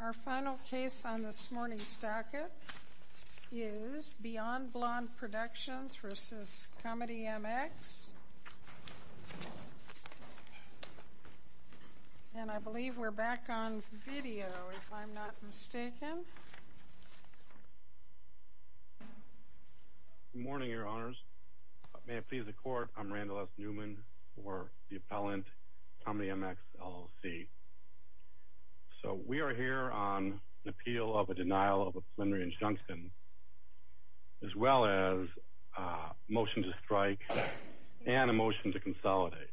Our final case on this morning's docket is Beyond Blond Productions v. ComedyMX, and I believe we're back on video if I'm not mistaken. Good morning, your honors. May it please the court, I'm Randall S. Newman for the appellant, ComedyMX, LLC. So we are here on an appeal of a denial of a plenary injunction, as well as a motion to strike and a motion to consolidate.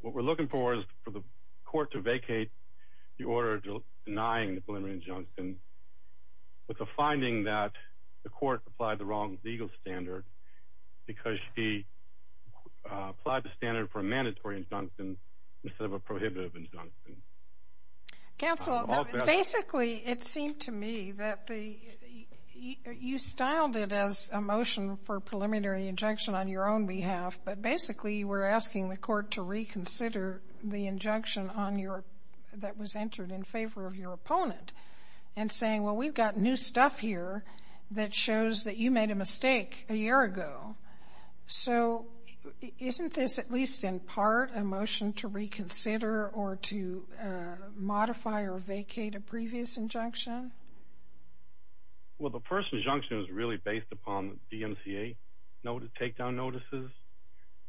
What we're looking for is for the court to vacate the order denying the plenary injunction with the finding that the court applied the wrong legal standard because she applied the standard for a mandatory injunction instead of a prohibitive injunction. Counsel, basically it seemed to me that you styled it as a motion for a preliminary injunction on your own behalf, but basically you were asking the court to reconsider the injunction that was entered in favor of your opponent and saying, well, we've got new stuff here that shows that you made a mistake a year ago. So isn't this at least in part a motion to reconsider or to modify or vacate a previous injunction? Well, the first injunction was really based upon DMCA takedown notices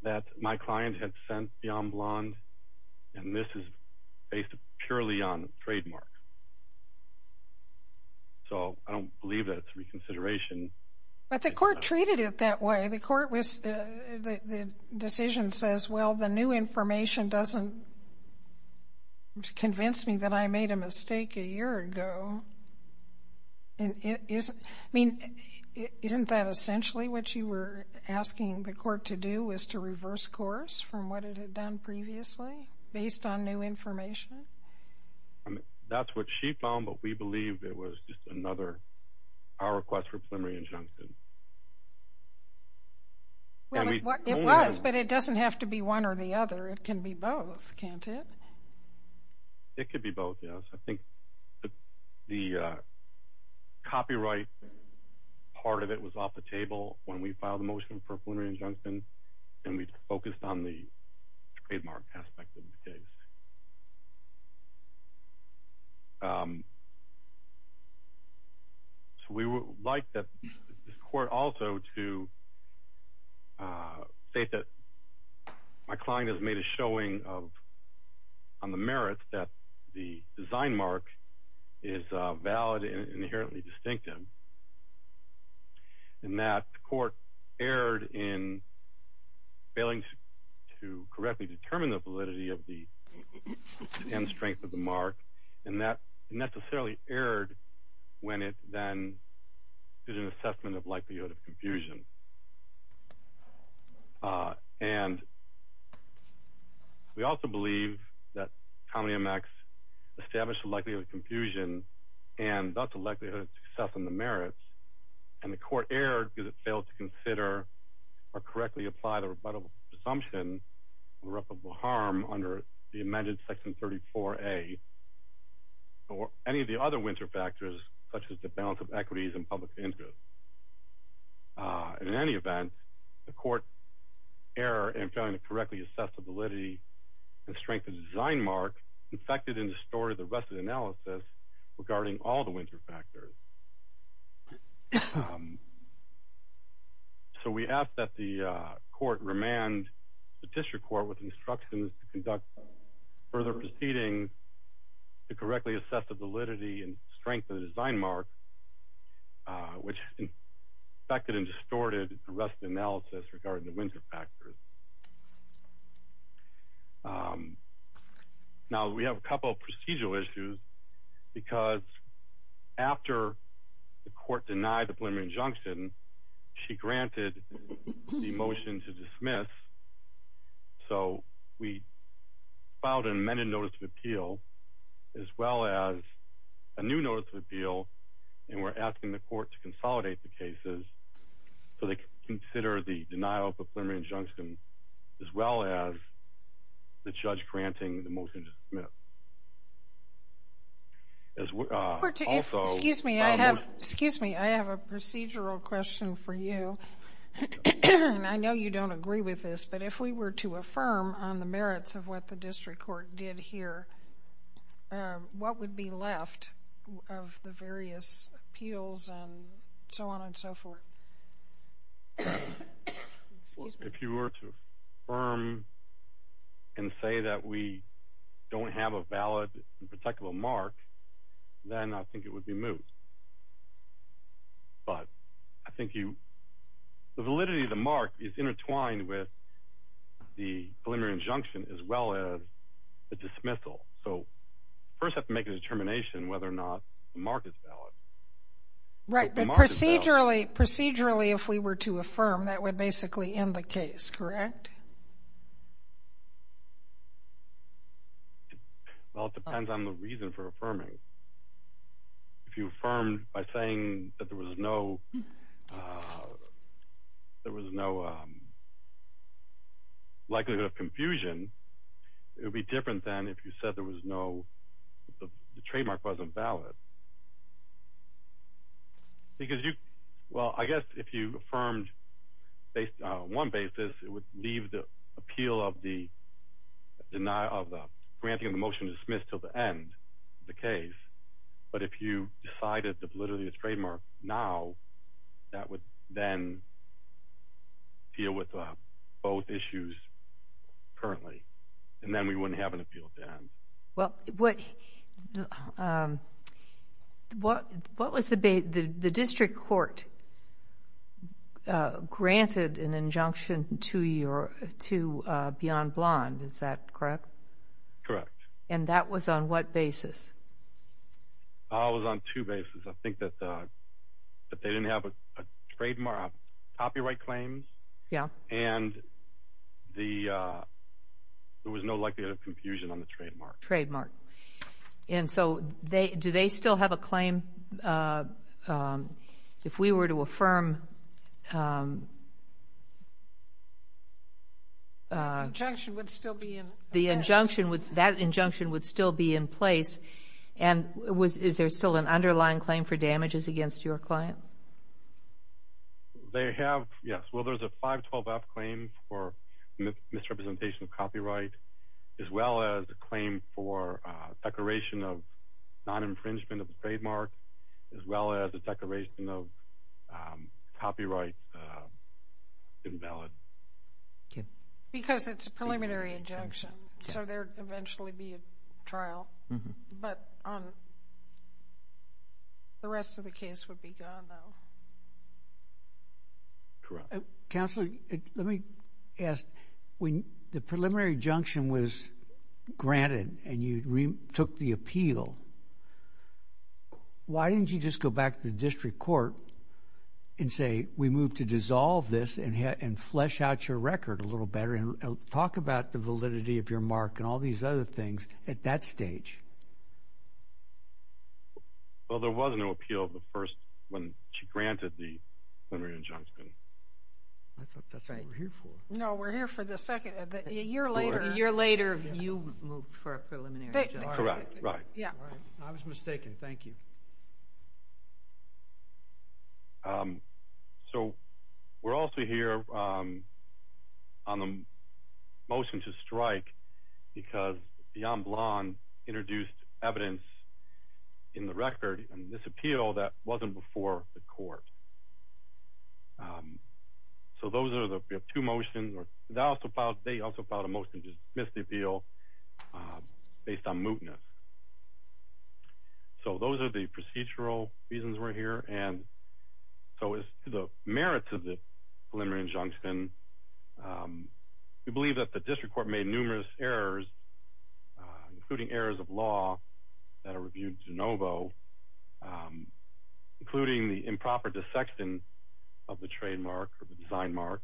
that my client had sent Beyond Blond, and this is based purely on trademarks. So I don't believe that it's reconsideration. But the court treated it that way. The decision says, well, the new information doesn't convince me that I made a mistake a year ago. I mean, isn't that essentially what you were asking the court to do was to reverse course from what it had done previously based on new information? That's what she found, but we believe it was just another power request for a preliminary injunction. It was, but it doesn't have to be one or the other. It can be both, can't it? It could be both, yes. I think the copyright part of it was off the table when we filed the motion for a preliminary injunction, and we focused on the trademark aspect of the case. So we would like the court also to state that my client has made a showing on the merits that the design mark is valid and inherently distinctive, and that the court erred in failing to correctly determine the validity and strength of the mark, and that necessarily erred when it then did an assessment of likelihood of confusion. And we also believe that Common EMAX established the likelihood of confusion and thus the likelihood of success on the merits, and the court erred because it failed to consider or correctly apply the rebuttable presumption of irreparable harm under the amended Section 34A or any of the other winter factors, such as the balance of equities and public interest. In any event, the court's error in failing to correctly assess the validity and strength of the design mark infected and distorted the rest of the analysis regarding all the winter factors. So we ask that the court remand the district court with instructions to conduct further proceedings to correctly assess the validity and strength of the design mark, which infected and distorted the rest of the analysis regarding the winter factors. Now, we have a couple of procedural issues, because after the court denied the preliminary injunction, she granted the motion to dismiss. So we filed an amended Notice of Appeal, as well as a new Notice of Appeal, and we're asking the court to consolidate the cases so they can consider the denial of the preliminary injunction, as well as the judge granting the motion to dismiss. Excuse me. I have a procedural question for you, and I know you don't agree with this, but if we were to affirm on the merits of what the district court did here, what would be left of the various appeals and so on and so forth? If you were to affirm and say that we don't have a valid and protectable mark, then I think it would be moved. But I think the validity of the mark is intertwined with the preliminary injunction, as well as the dismissal. So we first have to make a determination whether or not the mark is valid. Right, but procedurally, if we were to affirm, that would basically end the case, correct? Well, it depends on the reason for affirming. If you affirmed by saying that there was no likelihood of confusion, it would be different than if you said the trademark wasn't valid. Well, I guess if you affirmed on one basis, it would leave the appeal of the granting of the motion to dismiss until the end of the case. But if you decided the validity of the trademark now, that would then deal with both issues currently, and then we wouldn't have an appeal at the end. Well, what was the – the district court granted an injunction to Beyond Blonde, is that correct? Correct. And that was on what basis? It was on two bases. I think that they didn't have a trademark – copyright claims. Yeah. And the – there was no likelihood of confusion on the trademark. Trademark. And so do they still have a claim if we were to affirm? The injunction would still be in place. And is there still an underlying claim for damages against your client? They have, yes. Well, there's a 512F claim for misrepresentation of copyright, as well as a claim for declaration of non-infringement of the trademark, as well as a declaration of copyright invalid. Because it's a preliminary injunction, so there would eventually be a trial. But the rest of the case would be gone, though. Correct. Counselor, let me ask. When the preliminary injunction was granted and you took the appeal, why didn't you just go back to the district court and say, we move to dissolve this and flesh out your record a little better and talk about the validity of your mark and all these other things at that stage? Well, there was no appeal the first – when she granted the preliminary injunction. I thought that's what we're here for. No, we're here for the second – a year later. A year later, you moved for a preliminary injunction. Correct, right. I was mistaken. Thank you. So we're also here on the motion to strike because Beyond Blonde introduced evidence in the record in this appeal that wasn't before the court. So those are the two motions. They also filed a motion to dismiss the appeal based on mootness. So those are the procedural reasons we're here. And so as to the merits of the preliminary injunction, we believe that the district court made numerous errors, including errors of law, that are reviewed de novo, including the improper dissection of the trademark or the design mark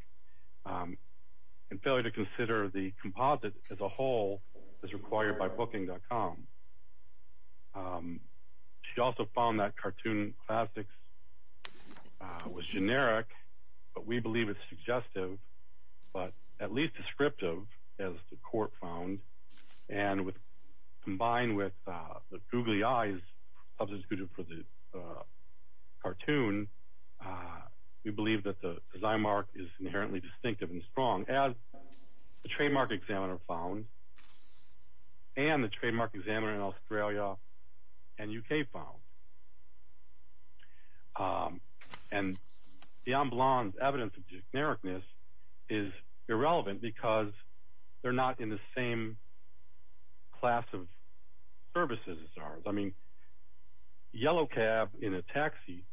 and failure to consider the composite as a whole as required by Booking.com. She also found that cartoon classics was generic, but we believe it's suggestive, but at least descriptive, as the court found. And combined with the googly eyes of the cartoon, we believe that the design mark is inherently distinctive and strong, as the trademark examiner found and the trademark examiner in Australia and U.K. found. And Beyond Blonde's evidence of genericness is irrelevant because they're not in the same class of services as ours. I mean, yellow cab in a taxi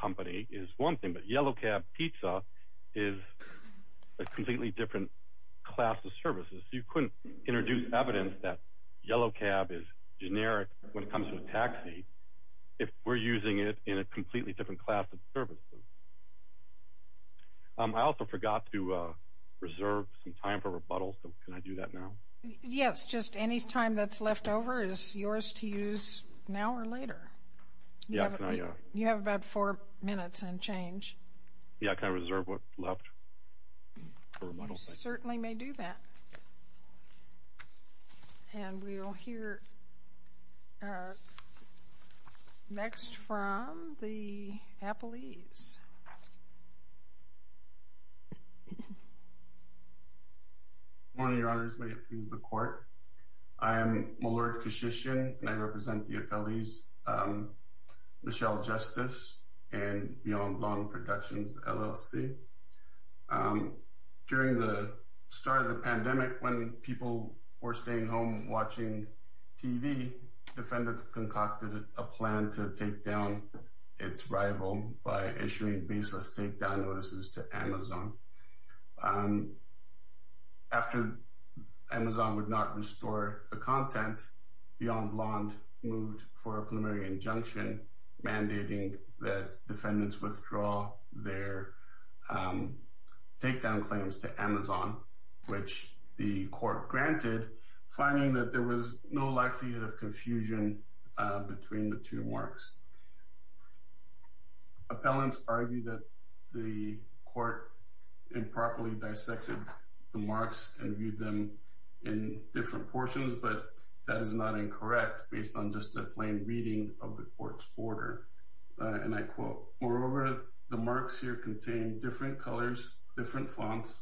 company is one thing, but yellow cab pizza is a completely different class of services. You couldn't introduce evidence that yellow cab is generic when it comes to a taxi if we're using it in a completely different class of services. I also forgot to reserve some time for rebuttals, so can I do that now? Yes, just any time that's left over is yours to use now or later. You have about four minutes and change. Yeah, can I reserve what's left for rebuttals? You certainly may do that. And we'll hear next from the appellees. Good morning, Your Honors. May it please the court. I am Malurk Kishishian, and I represent the appellees Michelle Justice and Beyond Blonde Productions, LLC. During the start of the pandemic, when people were staying home watching TV, defendants concocted a plan to take down its rival by issuing baseless takedown notices to Amazon. After Amazon would not restore the content, Beyond Blonde moved for a preliminary injunction mandating that defendants withdraw their takedown claims to Amazon, which the court granted, finding that there was no likelihood of confusion between the two marks. Appellants argue that the court improperly dissected the marks and viewed them in different portions, but that is not incorrect based on just a plain reading of the court's order. And I quote, Moreover, the marks here contain different colors, different fonts,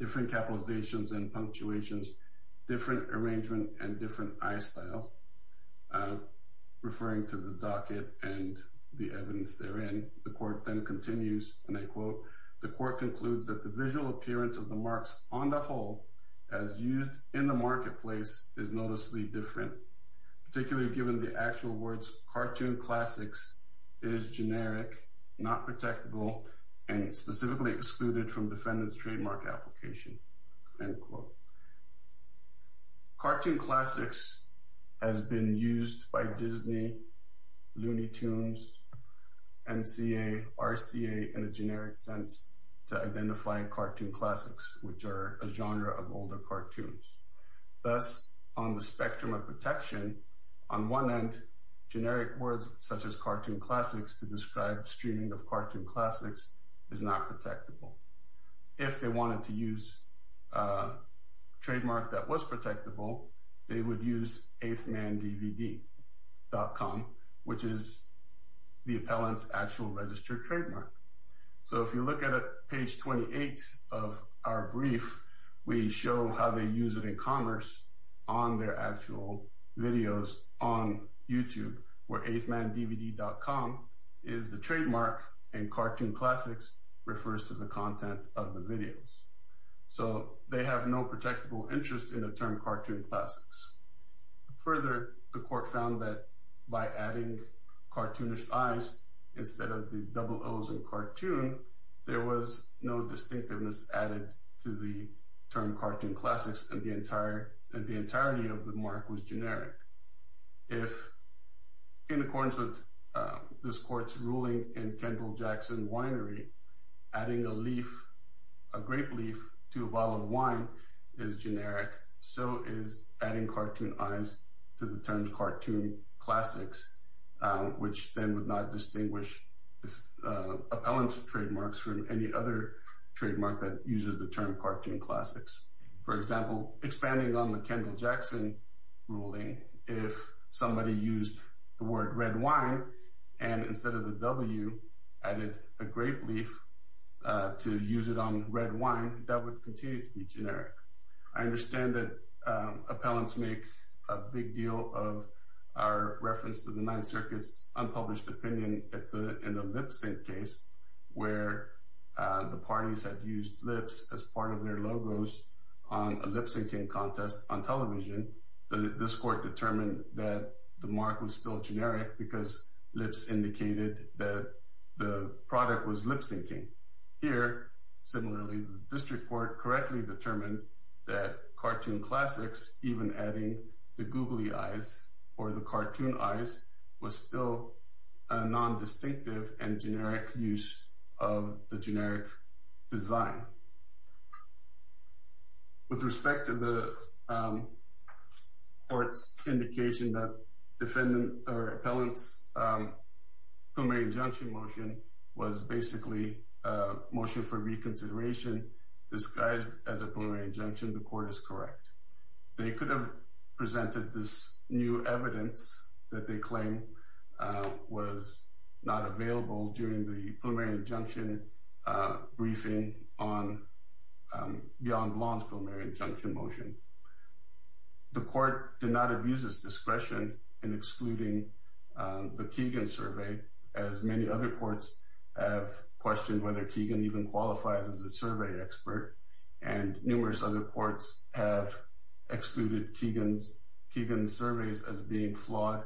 different capitalizations and punctuations, different arrangement and different eye styles, referring to the docket and the evidence therein. The court then continues, and I quote, The court concludes that the visual appearance of the marks on the whole as used in the marketplace is noticeably different, particularly given the actual words cartoon classics is generic, not protectable, and specifically excluded from defendant's trademark application. End quote. Cartoon classics has been used by Disney, Looney Tunes, MCA, RCA in a generic sense to identify cartoon classics, which are a genre of older cartoons. Thus, on the spectrum of protection, on one end, generic words such as cartoon classics to describe streaming of cartoon classics is not protectable. If they wanted to use a trademark that was protectable, they would use eighthmandvd.com, which is the appellant's actual registered trademark. So if you look at page 28 of our brief, we show how they use it in commerce on their actual videos on YouTube, where eighthmandvd.com is the trademark and cartoon classics refers to the content of the videos. So they have no protectable interest in the term cartoon classics. Further, the court found that by adding cartoonish eyes instead of the double O's in cartoon, there was no distinctiveness added to the term cartoon classics and the entirety of the mark was generic. If in accordance with this court's ruling in Kendall Jackson Winery, adding a leaf, a grape leaf to a bottle of wine is generic. So is adding cartoon eyes to the term cartoon classics, which then would not distinguish appellant's trademarks from any other trademark that uses the term cartoon classics. For example, expanding on the Kendall Jackson ruling, if somebody used the word red wine and instead of the W, added a grape leaf to use it on red wine, that would continue to be generic. I understand that appellants make a big deal of our reference to the Ninth Circuit's unpublished opinion in the Lip Sync case, where the parties had used lips as part of their logos on a lip syncing contest on television. This court determined that the mark was still generic because lips indicated that the product was lip syncing. Here, similarly, the district court correctly determined that cartoon classics, even adding the googly eyes or the cartoon eyes, was still a non-distinctive and generic use of the generic design. With respect to the court's indication that defendant or appellant's preliminary injunction motion was basically a motion for reconsideration, disguised as a preliminary injunction, the court is correct. They could have presented this new evidence that they claim was not available during the preliminary injunction briefing on beyond law's preliminary injunction motion. The court did not abuse its discretion in excluding the Keegan survey, as many other courts have questioned whether Keegan even qualifies as a survey expert, and numerous other courts have excluded Keegan's surveys as being flawed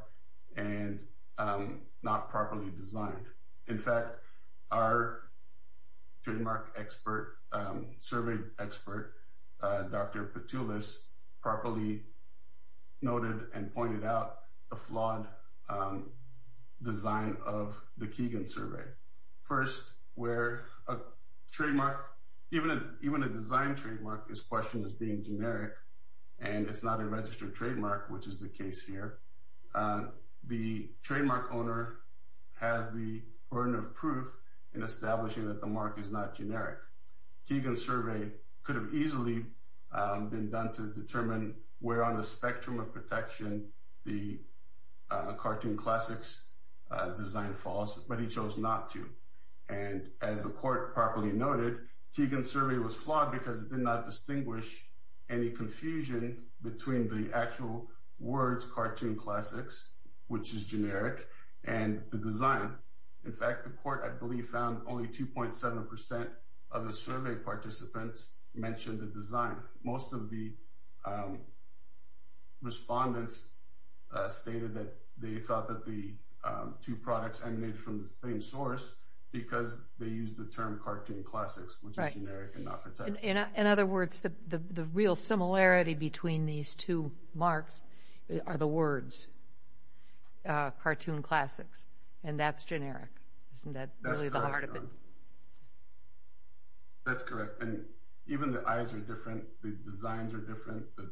and not properly designed. In fact, our trademark survey expert, Dr. Petulis, properly noted and pointed out the flawed design of the Keegan survey. First, even a design trademark is questioned as being generic, and it's not a registered trademark, which is the case here. The trademark owner has the burden of proof in establishing that the mark is not generic. Keegan's survey could have easily been done to determine where on the spectrum of protection the cartoon classics design falls, but he chose not to. As the court properly noted, Keegan's survey was flawed because it did not distinguish any confusion between the actual words cartoon classics, which is generic, and the design. In fact, the court, I believe, found only 2.7% of the survey participants mentioned the design. Most of the respondents stated that they thought that the two products emanated from the same source because they used the term cartoon classics, which is generic and not protected. In other words, the real similarity between these two marks are the words cartoon classics, and that's generic. Isn't that really the heart of it? That's correct. Even the eyes are different, the designs are different, the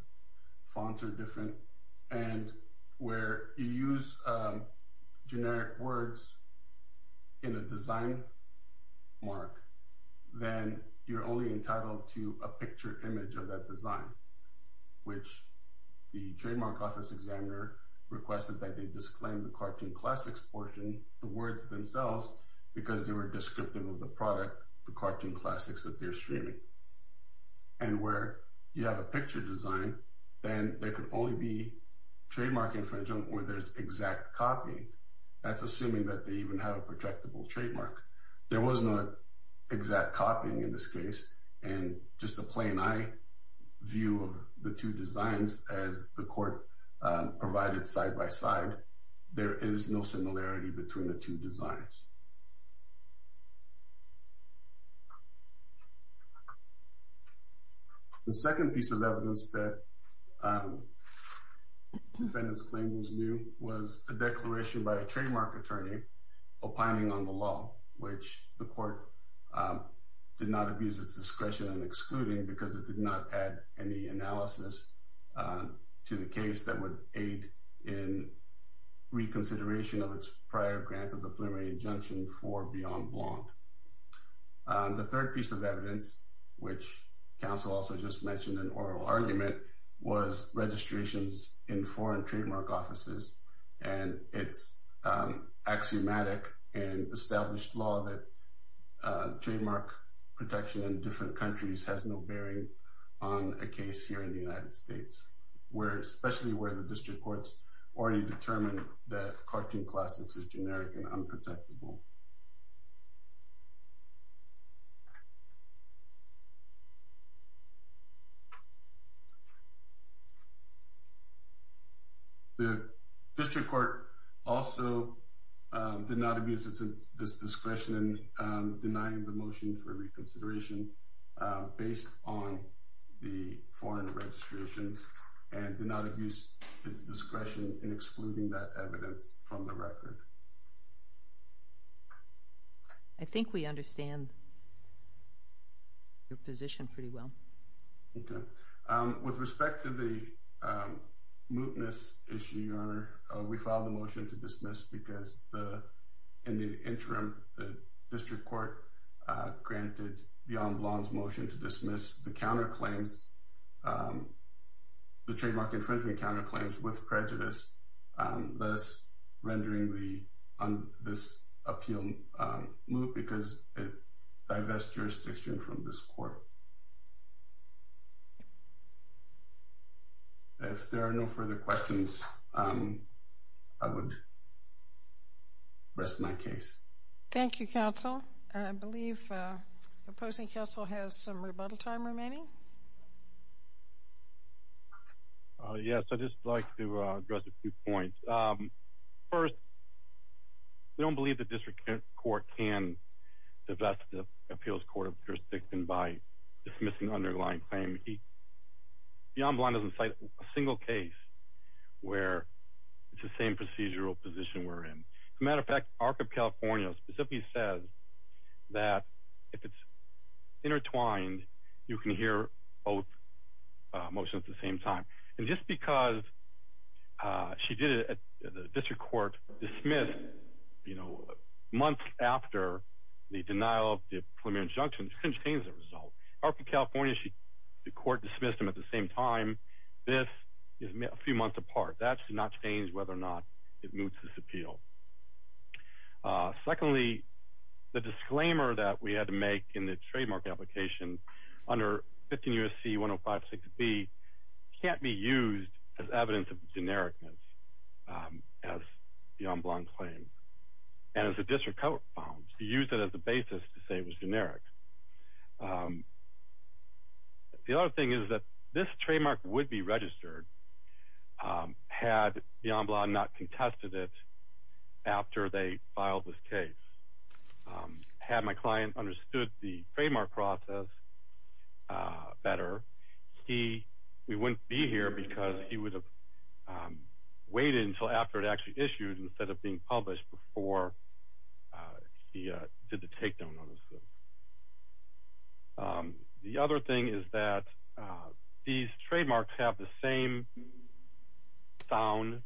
fonts are different, and where you use generic words in a design mark, then you're only entitled to a picture image of that design, which the trademark office examiner requested that they disclaim the cartoon classics portion, the words themselves, because they were descriptive of the product, the cartoon classics that they're streaming. And where you have a picture design, then there could only be trademark infringement where there's exact copy. That's assuming that they even have a protectable trademark. There was no exact copying in this case, and just a plain-eye view of the two designs as the court provided side-by-side, there is no similarity between the two designs. The second piece of evidence that defendants claimed was new was a declaration by a trademark attorney opining on the law, which the court did not abuse its discretion in excluding because it did not add any analysis to the case that would aid in reconsideration of its prior grant of the preliminary injunction. The third piece of evidence, which counsel also just mentioned in oral argument, was registrations in foreign trademark offices, and it's axiomatic in established law that trademark protection in different countries has no bearing on a case here in the United States, especially where the district courts already determined that cartoon classics is generic and unprotectable. The district court also did not abuse its discretion in denying the motion for reconsideration based on the foreign registrations, and did not abuse its discretion in excluding that evidence from the record. I think we understand your position pretty well. With respect to the mootness issue, Your Honor, we filed a motion to dismiss because in the interim, the district court granted the en blanc motion to dismiss the trademark infringement counterclaims with prejudice, thus rendering this appeal moot because it divests jurisdiction from this court. If there are no further questions, I would rest my case. Thank you, counsel. I believe opposing counsel has some rebuttal time remaining. Yes, I'd just like to address a few points. First, we don't believe the district court can divest the appeals court of jurisdiction by dismissing an underlying claim. The en blanc doesn't cite a single case where it's the same procedural position we're in. As a matter of fact, ARC of California specifically says that if it's intertwined, you can hear both motions at the same time. And just because she did it, the district court dismissed months after the denial of the preliminary injunction, it contains the result. ARC of California, the court dismissed them at the same time. This is a few months apart. That does not change whether or not it moots this appeal. Secondly, the disclaimer that we had to make in the trademark application under 15 U.S.C. 1056B can't be used as evidence of genericness as the en blanc claim. And as the district court found, to use it as a basis to say it was generic. The other thing is that this trademark would be registered had the en blanc not contested it after they filed this case. Had my client understood the trademark process better, we wouldn't be here because he would have waited until after it actually issued instead of being published before he did the takedown on the suit. The other thing is that these trademarks have the same sound,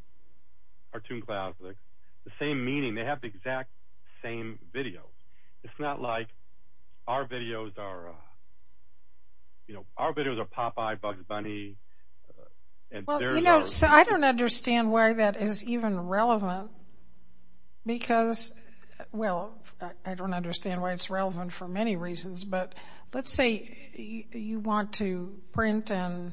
the same meaning, they have the exact same video. It's not like our videos are Popeye, Bugs Bunny. I don't understand why that is even relevant because, well, I don't understand why it's relevant for many reasons. But let's say you want to print and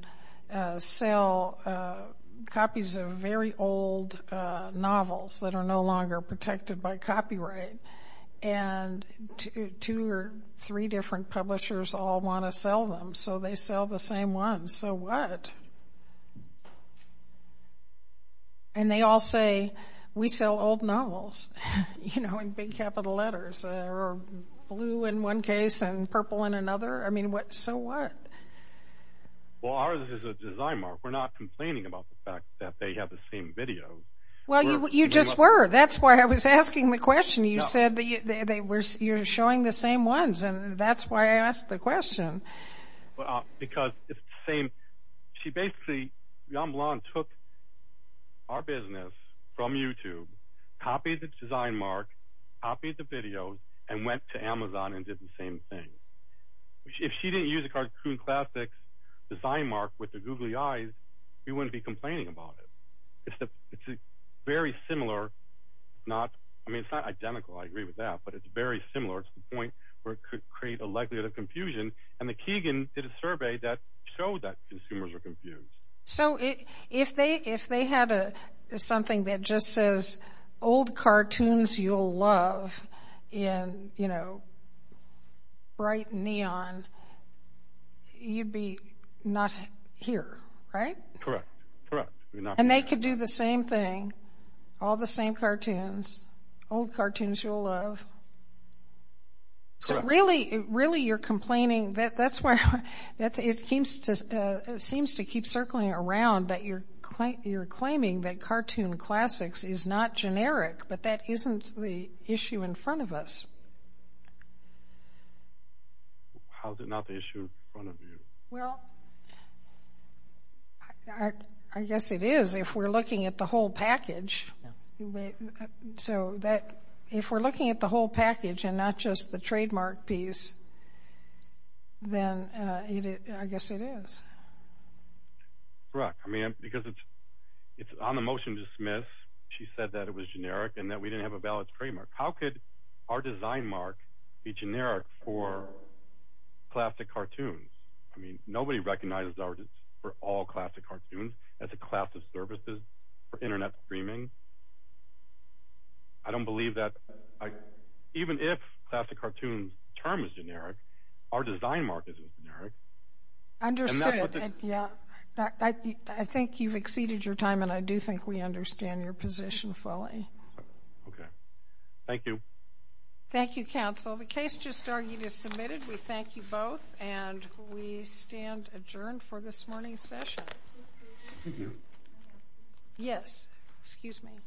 sell copies of very old novels that are no longer protected by copyright. And two or three different publishers all want to sell them. So they sell the same ones. So what? And they all say, we sell old novels, you know, in big capital letters or blue in one case and purple in another. I mean, so what? Well, ours is a design mark. We're not complaining about the fact that they have the same video. Well, you just were. That's why I was asking the question. And that's why I asked the question. Because it's the same. She basically, Yann Blanc, took our business from YouTube, copied the design mark, copied the video, and went to Amazon and did the same thing. If she didn't use a cartoon classic design mark with the googly eyes, we wouldn't be complaining about it. It's very similar. I mean, it's not identical. I agree with that. But it's very similar to the point where it could create a likelihood of confusion. And the Keegan did a survey that showed that consumers were confused. So if they had something that just says, old cartoons you'll love in, you know, bright neon, you'd be not here, right? Correct. Correct. And they could do the same thing, all the same cartoons, old cartoons you'll love. Correct. Really, you're complaining. That's why it seems to keep circling around that you're claiming that cartoon classics is not generic, but that isn't the issue in front of us. How is it not the issue in front of you? Well, I guess it is if we're looking at the whole package. So if we're looking at the whole package and not just the trademark piece, then I guess it is. Correct. I mean, because it's on the motion to dismiss, she said that it was generic and that we didn't have a valid trademark. How could our design mark be generic for classic cartoons? I mean, nobody recognizes artists for all classic cartoons as a class of services for Internet streaming. I don't believe that. Even if classic cartoons' term is generic, our design mark isn't generic. Understood. I think you've exceeded your time, and I do think we understand your position fully. Okay. Thank you. Thank you, counsel. The case just argued is submitted. We thank you both, and we stand adjourned for this morning's session. Thank you. Yes. Excuse me.